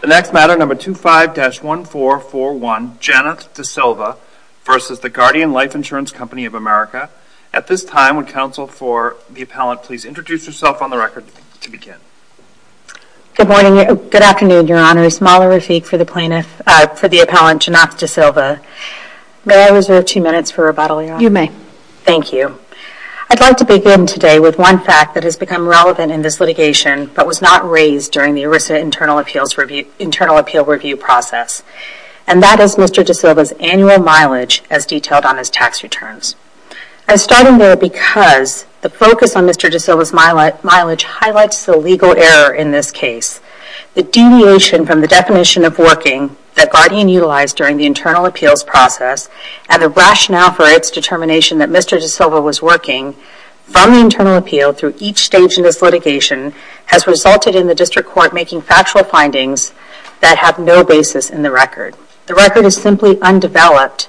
The next matter, number 25-1441, Janeth DeSilva v. The Guardian Life Insurance Company of America. At this time, would counsel for the appellant please introduce yourself on the record to begin. Good morning, good afternoon, your honor. Smala Rafiq for the plaintiff, for the appellant Janeth DeSilva. May I reserve two minutes for rebuttal, your honor? You may. Thank you. I'd like to begin today with one fact that has become relevant in this litigation but was not raised during the ERISA Internal Appeal Review process, and that is Mr. DeSilva's annual mileage as detailed on his tax returns. I'm starting there because the focus on Mr. DeSilva's mileage highlights the legal error in this case. The deviation from the definition of working that Guardian utilized during the internal appeals process and the rationale for its determination that Mr. DeSilva was working from the internal appeal through each stage in this litigation has resulted in the district court making factual findings that have no basis in the record. The record is simply undeveloped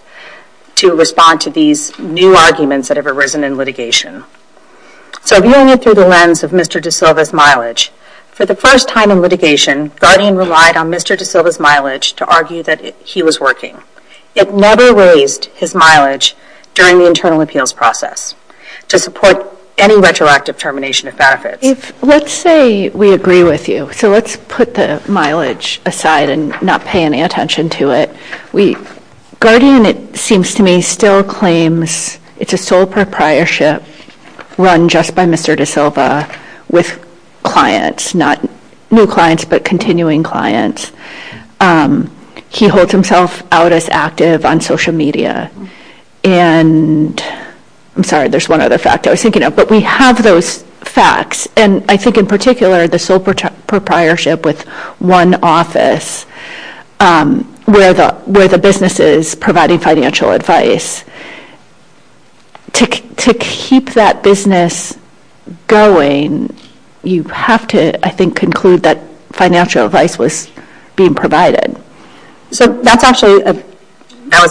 to respond to these new arguments that have arisen in litigation. So viewing it through the lens of Mr. DeSilva's mileage, for the first time in litigation, Guardian relied on Mr. DeSilva's mileage to argue that he was working. It never raised his mileage during the internal appeals process to support any retroactive termination of benefits. Let's say we agree with you. So let's put the mileage aside and not pay any attention to it. Guardian, it seems to me, still claims it's a sole proprietorship run just by Mr. DeSilva with clients, not new clients but continuing clients. He holds himself out as a sole proprietorship. There's one other fact I was thinking of but we have those facts and I think in particular the sole proprietorship with one office where the business is providing financial advice. To keep that business going, you have to, I think, conclude that financial advice was being provided. So that's actually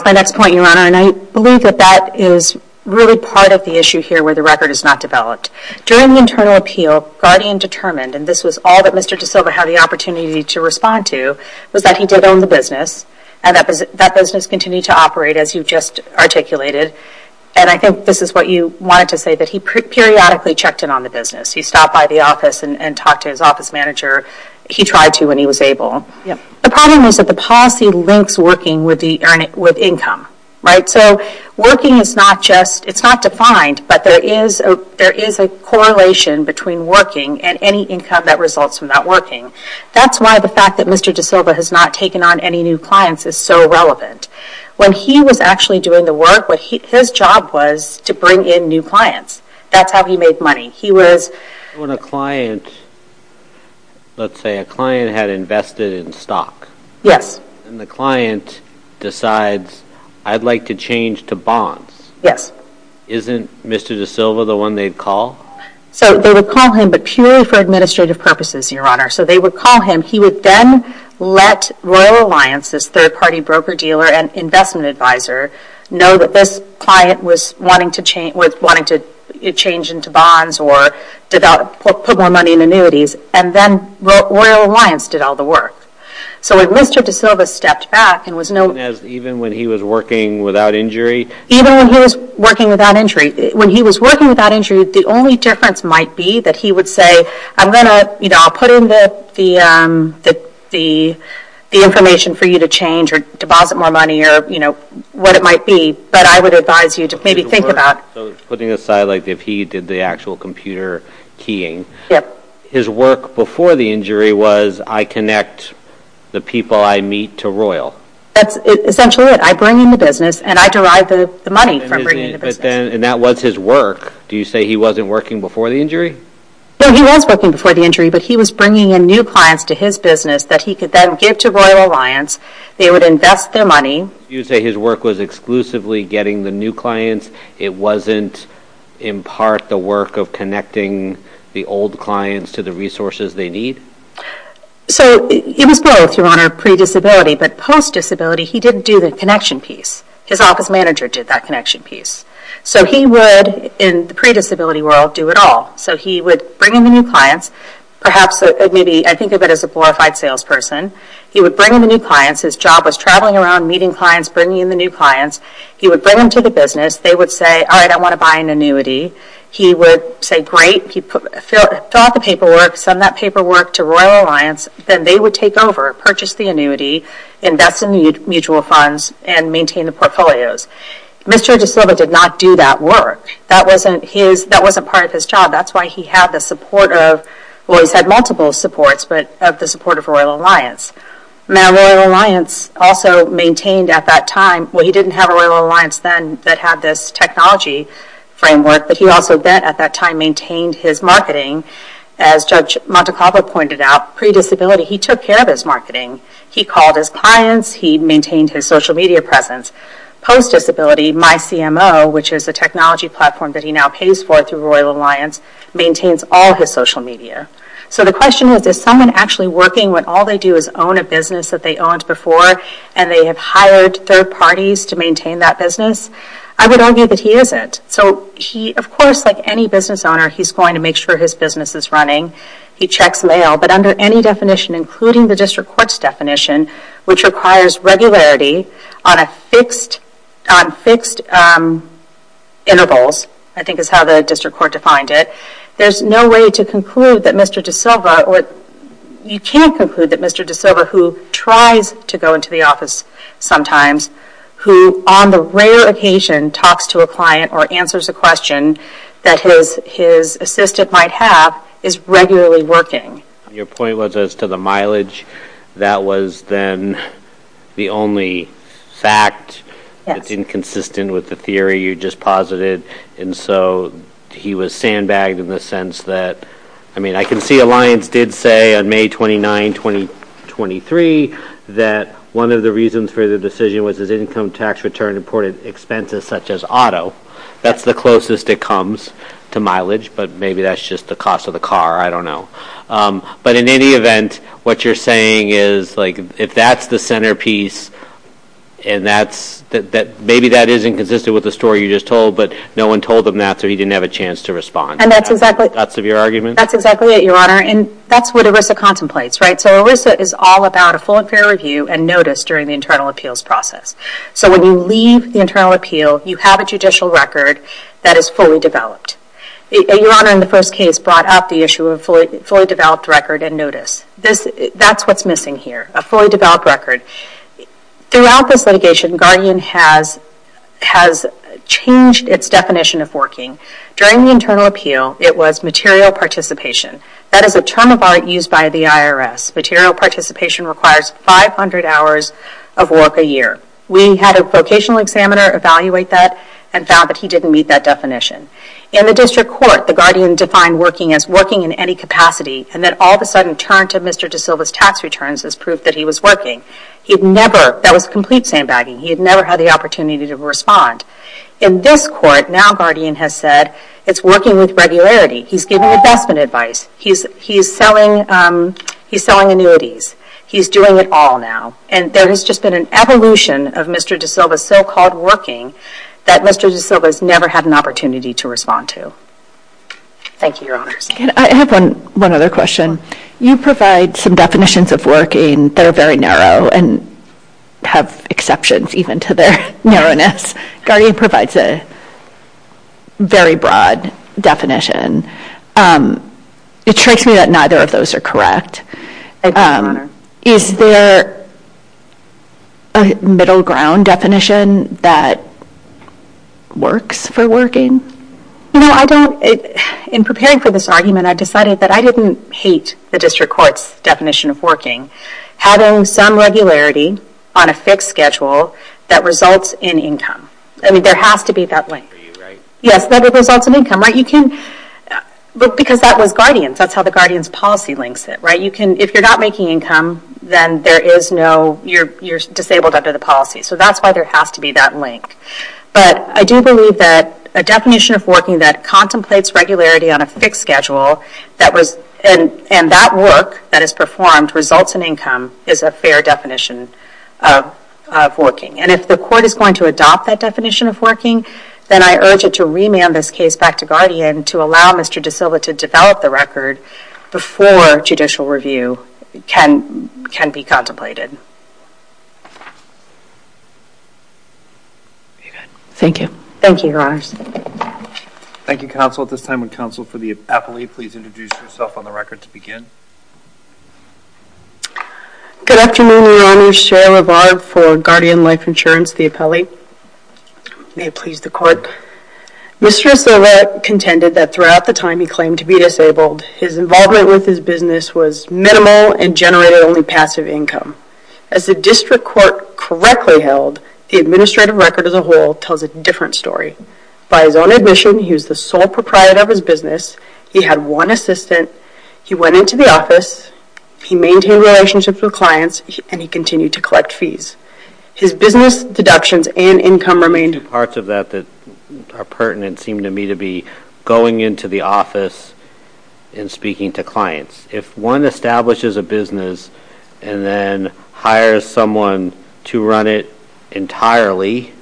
my next point, Your Honor, and I believe that that is really part of the issue here where the record is not developed. During the internal appeal, Guardian determined, and this was all that Mr. DeSilva had the opportunity to respond to, was that he did own the business and that business continued to operate as you just articulated. And I think this is what you wanted to say, that he periodically checked in on the business. He stopped by the office and talked to his office manager. He tried to when he was able. The problem was that the policy links working with income. So working is not defined as working, but there is a correlation between working and any income that results from not working. That's why the fact that Mr. DeSilva has not taken on any new clients is so relevant. When he was actually doing the work, his job was to bring in new clients. That's how he made money. He was... When a client, let's say a client had invested in stock. Yes. And the client decides, I'd like to change to bonds. Yes. But isn't Mr. DeSilva the one they'd call? So they would call him, but purely for administrative purposes, Your Honor. So they would call him. He would then let Royal Alliance, this third party broker dealer and investment advisor, know that this client was wanting to change into bonds or put more money in annuities. And then Royal Alliance did all the work. So when Mr. DeSilva stepped back and was no... Even when he was working without injury? Even when he was working without injury. When he was working without injury, the only difference might be that he would say, I'm going to, you know, I'll put in the information for you to change or deposit more money or, you know, what it might be, but I would advise you to maybe think about... So putting aside, like, if he did the actual computer keying, his work before the injury was I connect the people I meet to Royal. That's essentially it. I bring in the business and I derive the money from bringing in the business. And that was his work. Do you say he wasn't working before the injury? No, he was working before the injury, but he was bringing in new clients to his business that he could then give to Royal Alliance. They would invest their money. You say his work was exclusively getting the new clients. It wasn't, in part, the work of connecting the old clients to the resources they need? So it was both, Your Honor, pre-disability, but post-disability, he didn't do the connection piece. His office manager did that connection piece. So he would, in the pre-disability world, do it all. So he would bring in the new clients, perhaps, maybe, I think of it as a glorified salesperson. He would bring in the new clients. His job was traveling around, meeting clients, bringing in the new clients. He would bring them to the business. They would say, all right, I want to buy an annuity. He would say, great. He'd fill out the paperwork, send that paperwork to Royal Alliance. Then they would take over, purchase the annuity, invest in the mutual funds, and maintain the portfolios. Mr. De Silva did not do that work. That wasn't part of his job. That's why he had the support of, well, he's had multiple supports, but of the support of Royal Alliance. Now, Royal Alliance also maintained, at that time, well, he didn't have a Royal Alliance then that had this technology framework, but he also then, at that time, maintained his marketing. As Judge Montecalvo pointed out, pre-disability, he took care of his marketing. He called his clients. He maintained his social media presence. Post-disability, MyCMO, which is a technology platform that he now pays for through Royal Alliance, maintains all his social media. So the question is, is someone actually working when all they do is own a business that they owned before, and they have hired third parties to maintain that business? I would argue that he isn't. Of course, like any business owner, he's going to make sure his business is running. He checks mail, but under any definition, including the district court's definition, which requires regularity on fixed intervals, I think is how the district court defined it, there's no way to conclude that Mr. De Silva, you can't conclude that Mr. De Silva, who tries to go into the office sometimes, who on the rare occasion talks to a client or answers a question that his assistant might have, is regularly working. Your point was as to the mileage. That was then the only fact that's inconsistent with the theory you just posited, and so he was sandbagged in the sense that, I mean, I can see Alliance did say on May 29, 2023, that one of the reasons for the decision was his income tax return imported expenses, such as auto. That's the closest it comes to mileage, but maybe that's just the cost of the car. I don't know. But in any event, what you're saying is, if that's the centerpiece, and maybe that is inconsistent with the story you just told, but no one told him that, so he didn't have a chance to respond. That's exactly it, Your Honor, and that's what ERISA contemplates. So ERISA is all about a full and fair review and notice during the internal appeals process. So when you leave the internal appeal, you have a judicial record that is fully developed. Your Honor, in the first case, brought up the issue of a fully developed record and notice. That's what's missing here, a fully developed record. Throughout this litigation, Guardian has changed its definition of working. During the internal appeal, it was material participation. That is a term of art used by the IRS. Material participation requires 500 hours of work a year. We had a vocational examiner evaluate that and found that he didn't meet that definition. In the district court, the Guardian defined working as working in any capacity and then all of a sudden turned to Mr. De Silva's tax returns as proof that he was working. He'd never, that was complete sandbagging. He had never had the opportunity to respond. In this court, now Guardian has said, it's working with regularity. He's giving investment advice. He's selling annuities. He's doing it all now. And there has just been an evolution of Mr. De Silva's so-called working that Mr. De Silva's never had an opportunity to respond to. Thank you, Your Honors. I have one other question. You provide some definitions of working that are very narrow and have exceptions even to their narrowness. Guardian provides a very broad definition. It strikes me that neither of those are correct. Is there a middle ground definition that works for working? In preparing for this argument, I decided that I didn't hate the district court's definition of working, having some regularity on a fixed schedule that results in income. There has to be that link. For you, right? Yes, that it results in income. Because that was Guardian's. That's how the Guardian's policy links it. If you're not making income, then you're disabled under the policy. So that's why there has to be that link. But I do believe that a definition of working that contemplates regularity on a fixed schedule and that work that is performed results in income is a fair definition of working. And if the court is going to adopt that definition of working, then I urge it to remand this case back to Guardian to allow Mr. De Silva to develop the record before judicial review can be contemplated. Thank you. Thank you, Your Honors. Thank you, counsel. At this time, would counsel for the appellee please introduce herself on the record to begin? Good afternoon, Your Honor. Sherry LaVar for Guardian Life Insurance, the appellee. May it please the court. Mr. De Silva contended that throughout the time he claimed to be disabled, his involvement with his business was minimal and generated only passive income. As the district court correctly held, the administrative record as a whole tells a different story. By his own admission, he was the sole proprietor of his business. He had one assistant. He went into the office. He maintained relationships with clients, and he continued to collect fees. His business deductions and income remained... There are two parts of that that are pertinent, seem to me, to be going into the office and speaking to clients. If one establishes a business and then hires someone to run it entirely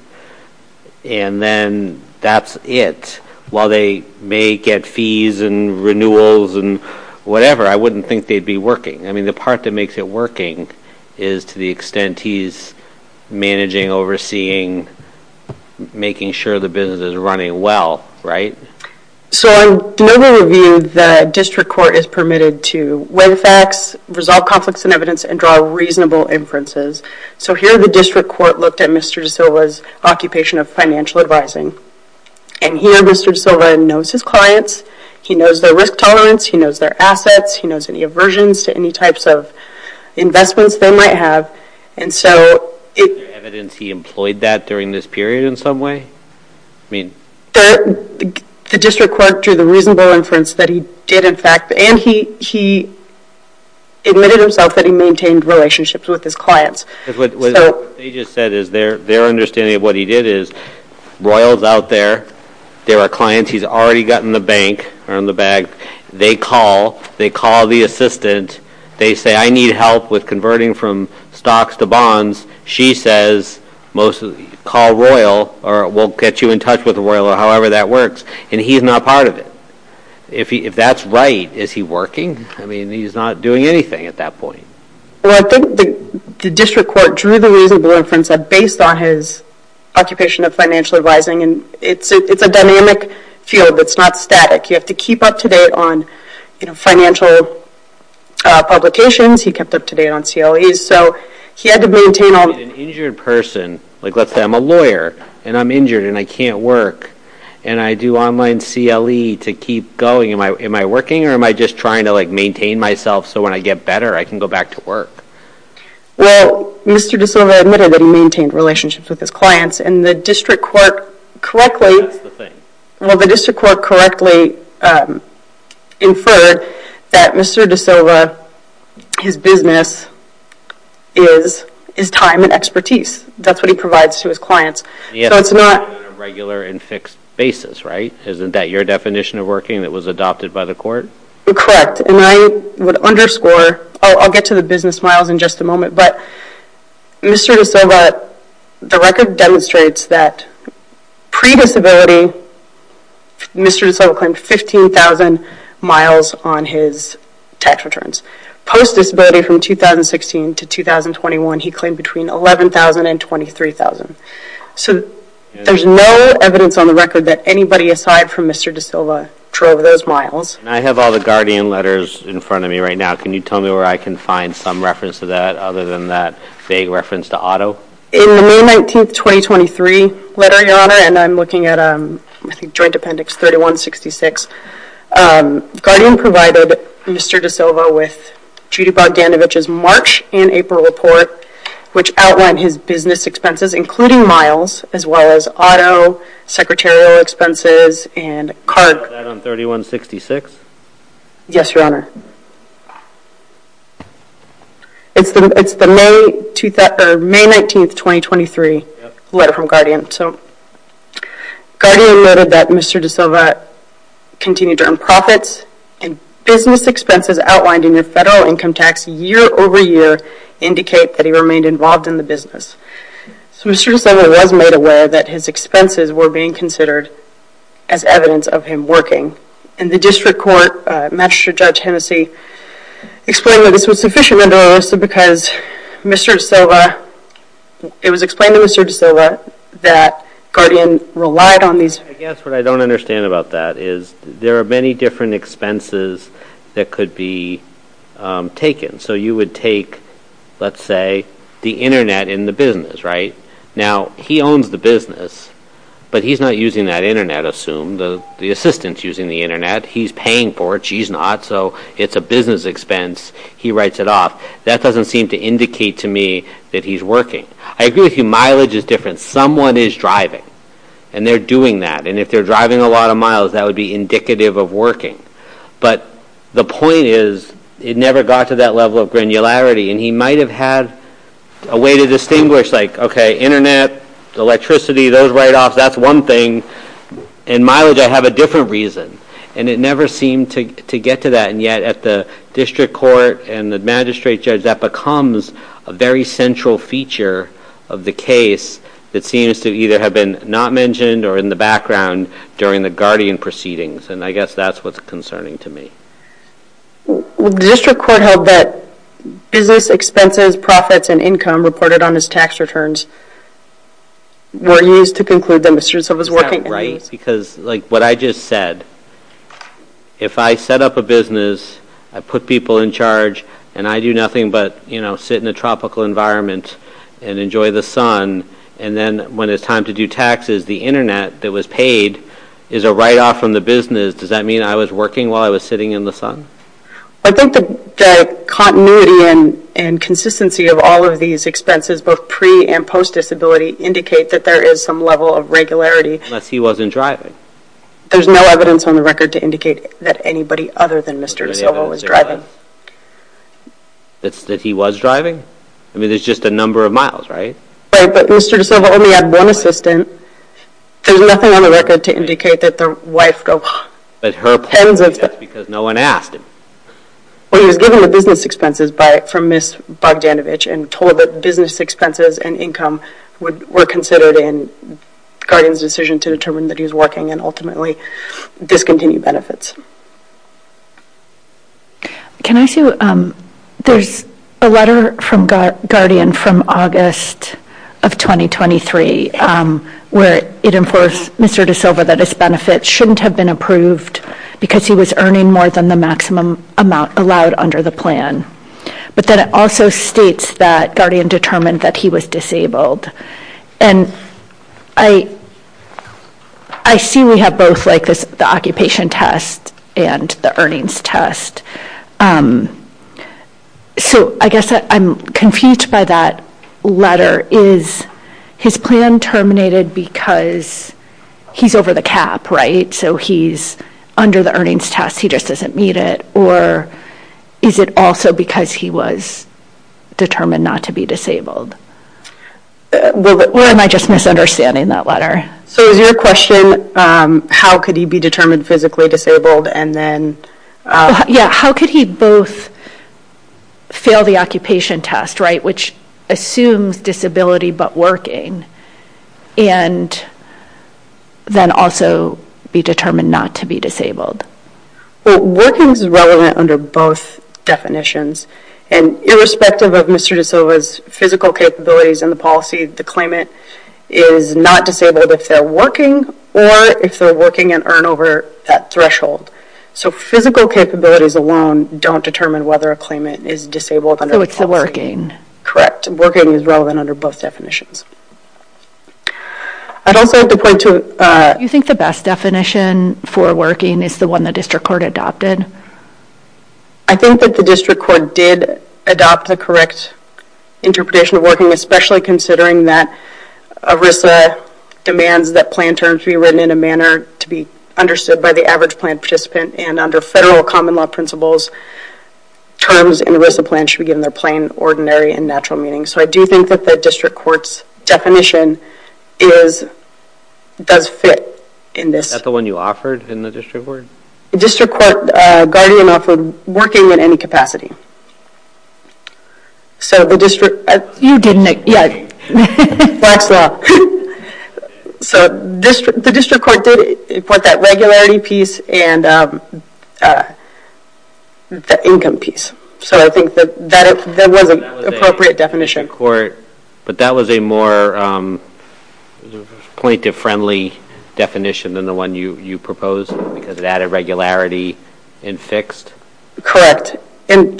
and then that's it, while they may get fees and renewals and whatever, I wouldn't think they'd be working. I mean, the part that makes it working is to the extent he's managing, overseeing, making sure the business is running well, right? So, in Denobo Review, the district court is permitted to weigh the facts, resolve conflicts and evidence, and draw reasonable inferences. So here, the district court looked at Mr. De Silva's occupation of financial advising. And here, Mr. De Silva knows his clients. He knows their risk tolerance. He knows their assets. He knows any aversions to any types of investments they might have. Is there evidence he employed that during this period in some way? I mean... The district court drew the reasonable inference that he did, in fact, and he admitted himself that he maintained relationships with his clients. What they just said is their understanding of what he did is, Royall's out there. There are clients he's already got in the bank or in the bag. They call. They call the assistant. They say, I need help with converting from stocks to bonds. She says, call Royall or we'll get you in touch with Royall or however that works. And he's not part of it. If that's right, is he working? I mean, he's not doing anything at that point. Well, I think the district court drew the reasonable inference based on his occupation of financial advising. And it's a dynamic field. It's not static. You have to keep up to date on financial publications. He kept up to date on CLEs. So he had to maintain... An injured person, like let's say I'm a lawyer and I'm injured and I can't work and I do online CLE to keep going. Am I working or am I just trying to maintain myself so when I get better I can go back to work? Well, Mr. De Silva admitted that he maintained relationships with his clients and the district court correctly... Well, the district court correctly inferred that Mr. De Silva, his business is time and expertise. That's what he provides to his clients. So it's not a regular and fixed basis, right? Isn't that your definition of working that was adopted by the court? Correct. And I would underscore, I'll get to the business miles in just a moment, but Mr. De Silva, the record demonstrates that pre-disability, Mr. De Silva claimed 15,000 miles on his tax returns. Post-disability from 2016 to 2021, he claimed between 11,000 and 23,000. So there's no evidence on the record that anybody aside from Mr. De Silva drove those miles. And I have all the Guardian letters in front of me right now. Can you tell me where I can find some reference to that other than that vague reference to auto? In the May 19th, 2023 letter, your honor, and I'm looking at, I think, joint appendix 3166, Guardian provided Mr. De Silva with Judy Bogdanovich's March and April report, which outlined his business expenses, including miles, as well as auto, secretarial expenses, and cargo. Is that on 3166? Yes, your honor. It's the May 19th, 2023 letter from Guardian. So Guardian noted that Mr. De Silva continued to earn profits and business expenses outlined in the federal income tax year over year indicate that he remained involved in the business. So Mr. De Silva was made aware that his expenses were being considered as evidence of him working. And the district court, Magistrate Judge Hennessey, explained that this was sufficient, because Mr. De Silva, it was explained to Mr. De Silva that Guardian relied on these. I guess what I don't understand about that is there are many different expenses that could be taken. So you would take, let's say, the internet in the business, right? Now he owns the business, but he's not using that internet, assumed. The assistant's using the internet. He's paying for it. She's not. So it's a business expense. He writes it off. That doesn't seem to indicate to me that he's working. I agree with you, mileage is different. Someone is driving, and they're doing that. And if they're driving a lot of miles, that would be indicative of working. But the point is, it never got to that level of granularity. And he might have had a way to distinguish, like, okay, internet, electricity, those write-offs, that's one thing. In mileage, I have a different reason. And it never seemed to get to that. And yet at the district court and the magistrate judge, that becomes a very central feature of the case that seems to either have been not mentioned or in the background during the Guardian proceedings. And I guess that's what's concerning to me. The district court held that business expenses, profits, and income reported on his tax returns were used to conclude that Mr. D'Souza was working. Because like what I just said, if I set up a business, I put people in charge, and I do nothing but sit in a tropical environment and enjoy the sun, and then when it's time to do taxes, the internet that was paid is a write-off from the business. Does that mean I was working while I was sitting in the sun? I think the continuity and consistency of all of these expenses, both pre- and post-disability, indicate that there is some level of regularity. Unless he wasn't driving. There's no evidence on the record to indicate that anybody other than Mr. D'Souza was driving. That he was driving? I mean, there's just a number of miles, right? Right, but Mr. D'Souza only had one assistant. There's nothing on the record to indicate that the wife go, but her point is that's because no one asked him. Well, he was given the business expenses from Ms. Bogdanovich and told that business expenses and income were considered in Guardian's decision to determine that he was working and ultimately discontinued benefits. Can I say, there's a letter from Guardian from August of 2023 where it informs Mr. D'Souza that his benefits shouldn't have been approved because he was earning more than the maximum amount allowed under the plan. But then it also states that Guardian determined that he was disabled. And I see we have both the occupation test and the earnings test. So I guess I'm confused by that letter. Is his plan terminated because he's over the cap, right? So he's under the earnings test, he just doesn't meet it. Or is it also because he was determined not to be disabled? Or am I just misunderstanding that letter? So is your question, how could he be physically disabled? How could he both fail the occupation test, which assumes disability but working, and then also be determined not to be disabled? Working is relevant under both definitions. And irrespective of Mr. D'Souza's physical capabilities and the policy, the claimant is not disabled if they're working or if they're working and earn over that threshold. So physical capabilities alone don't determine whether a claimant is disabled. So it's the working. Correct. Working is relevant under both definitions. I'd also like to point to... Do you think the best definition for working is the one the district court adopted? I think that the district court did adopt the correct interpretation of working, especially considering that ERISA demands that plan terms be written in a manner to be understood by the average plan participant. And under federal common law principles, terms in ERISA plans should be given their plain, ordinary, and natural meaning. So I do think that the district court's definition does fit in this. Is that the one you offered in the district court? District court guardian offered working in any capacity. So the district... You didn't... Yeah. Black's law. So the district court did put that regularity piece and the income piece. So I think that that was an appropriate definition. But that was a more plaintiff-friendly definition than the one you proposed because it added regularity and fixed? Correct. And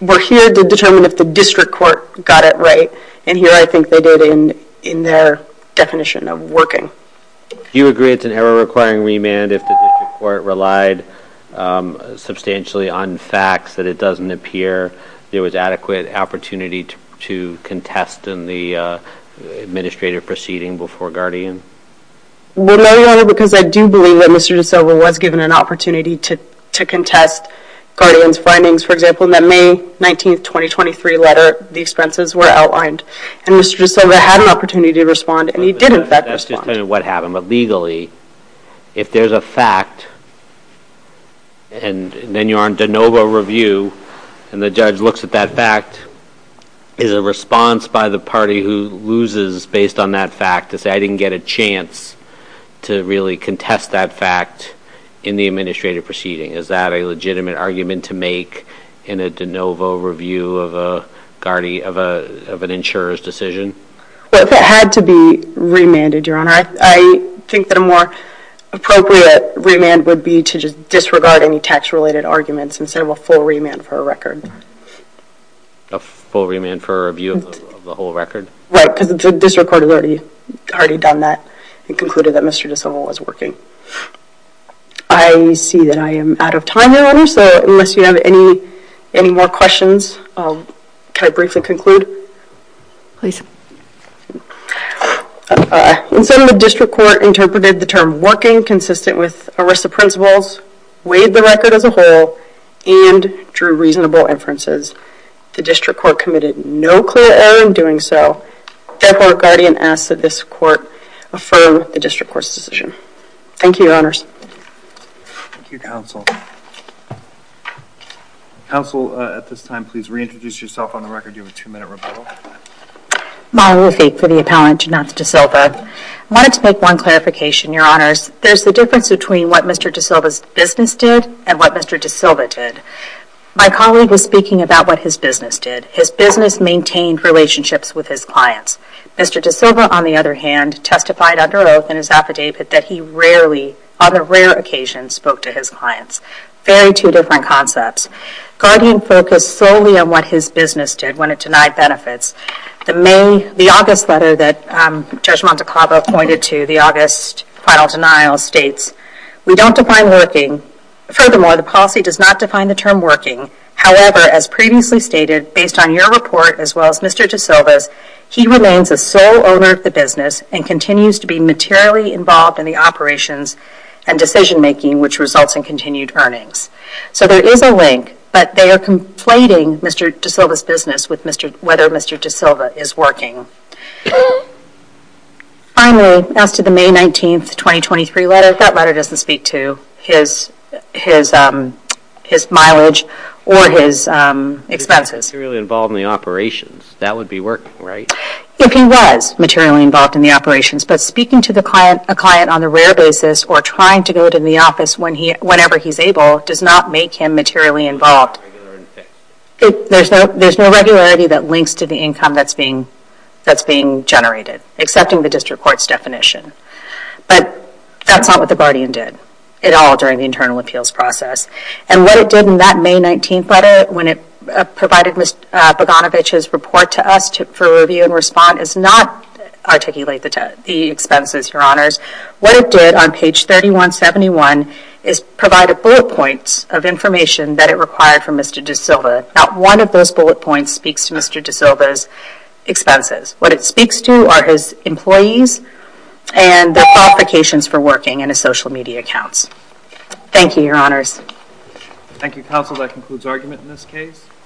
we're here to determine if the district court got it right. And here I think they did in their definition of working. Do you agree it's an error-requiring remand if the district court relied substantially on facts that it doesn't appear there was adequate opportunity to contest in the administrative proceeding before guardian? Well, no, Your Honor, because I do believe that Mr. DeSilva was given an opportunity to contest guardian's findings. For example, in that May 19, 2023 letter, the expenses were outlined. And Mr. DeSilva had an opportunity to respond and he did in fact respond. That's just what happened. But legally, if there's a fact and then you're on de novo review and the judge looks at that fact, is a response by the party who loses based on that fact to say, I didn't get a chance to really contest that fact in the administrative proceeding? Is that a legitimate argument to make in a de novo review of an insurer's decision? Well, if it had to be remanded, Your Honor, I think that a more appropriate remand would be to just disregard any tax-related arguments instead of a full remand for a record. A full remand for a review of the whole record? Right, because the district court has already already done that and concluded that Mr. DeSilva was working. I see that I am out of time, Your Honor, so unless you have any more questions, can I briefly conclude? Please. In sum, the district court interpreted the term working consistent with ERISA principles, weighed the record as a whole, and drew reasonable inferences. The district court committed no clear error in doing so. Therefore, a guardian asks that this court affirm the district court's decision. Thank you, Your Honors. Thank you, Counsel. Counsel, at this time, please reintroduce yourself on the record. You have a two-minute rebuttal. I wanted to make one clarification, Your Honors. There's a difference between what Mr. DeSilva's business did and what Mr. DeSilva did. My colleague was speaking about what his business did. His business maintained relationships with his clients. Mr. DeSilva, on the other hand, testified under oath in his affidavit that he rarely, on a rare occasion, spoke to his clients. Very two different concepts. Guardian focused solely on what his business did when it denied benefits. The August letter that Judge Montecava pointed to, the August final denial, states, we don't define working. Furthermore, the policy does not define the term working. However, as previously stated, based on your report, as well as Mr. DeSilva's, he remains a sole owner of the business and continues to be materially involved in the operations and decision making, which results in continued earnings. So there is a link, but they are conflating Mr. DeSilva's business with whether Mr. DeSilva is working. Finally, as to the May 19, 2023 letter, that letter doesn't speak to his mileage or his expenses. If he was materially involved in the operations, that would be working, right? If he was materially involved in the operations, but speaking to a client on a rare basis or trying to go to the office whenever he's able does not make him materially involved. There's no regularity that links to the income that's being generated, except in the district court's definition. But that's not what the Guardian did, at all, during the internal appeals process. And what it did in that May 19 letter, when it provided Ms. Boganovich's report to us for review and response, is not articulate the expenses, your honors. What it did on page 3171 is provide a bullet point of information that it required from Mr. DeSilva. Not one of those bullet points speaks to Mr. DeSilva's expenses. What it speaks to are his employees and their qualifications for working and his social media accounts. Thank you, your honors. Thank you, counsel. That concludes argument in this case.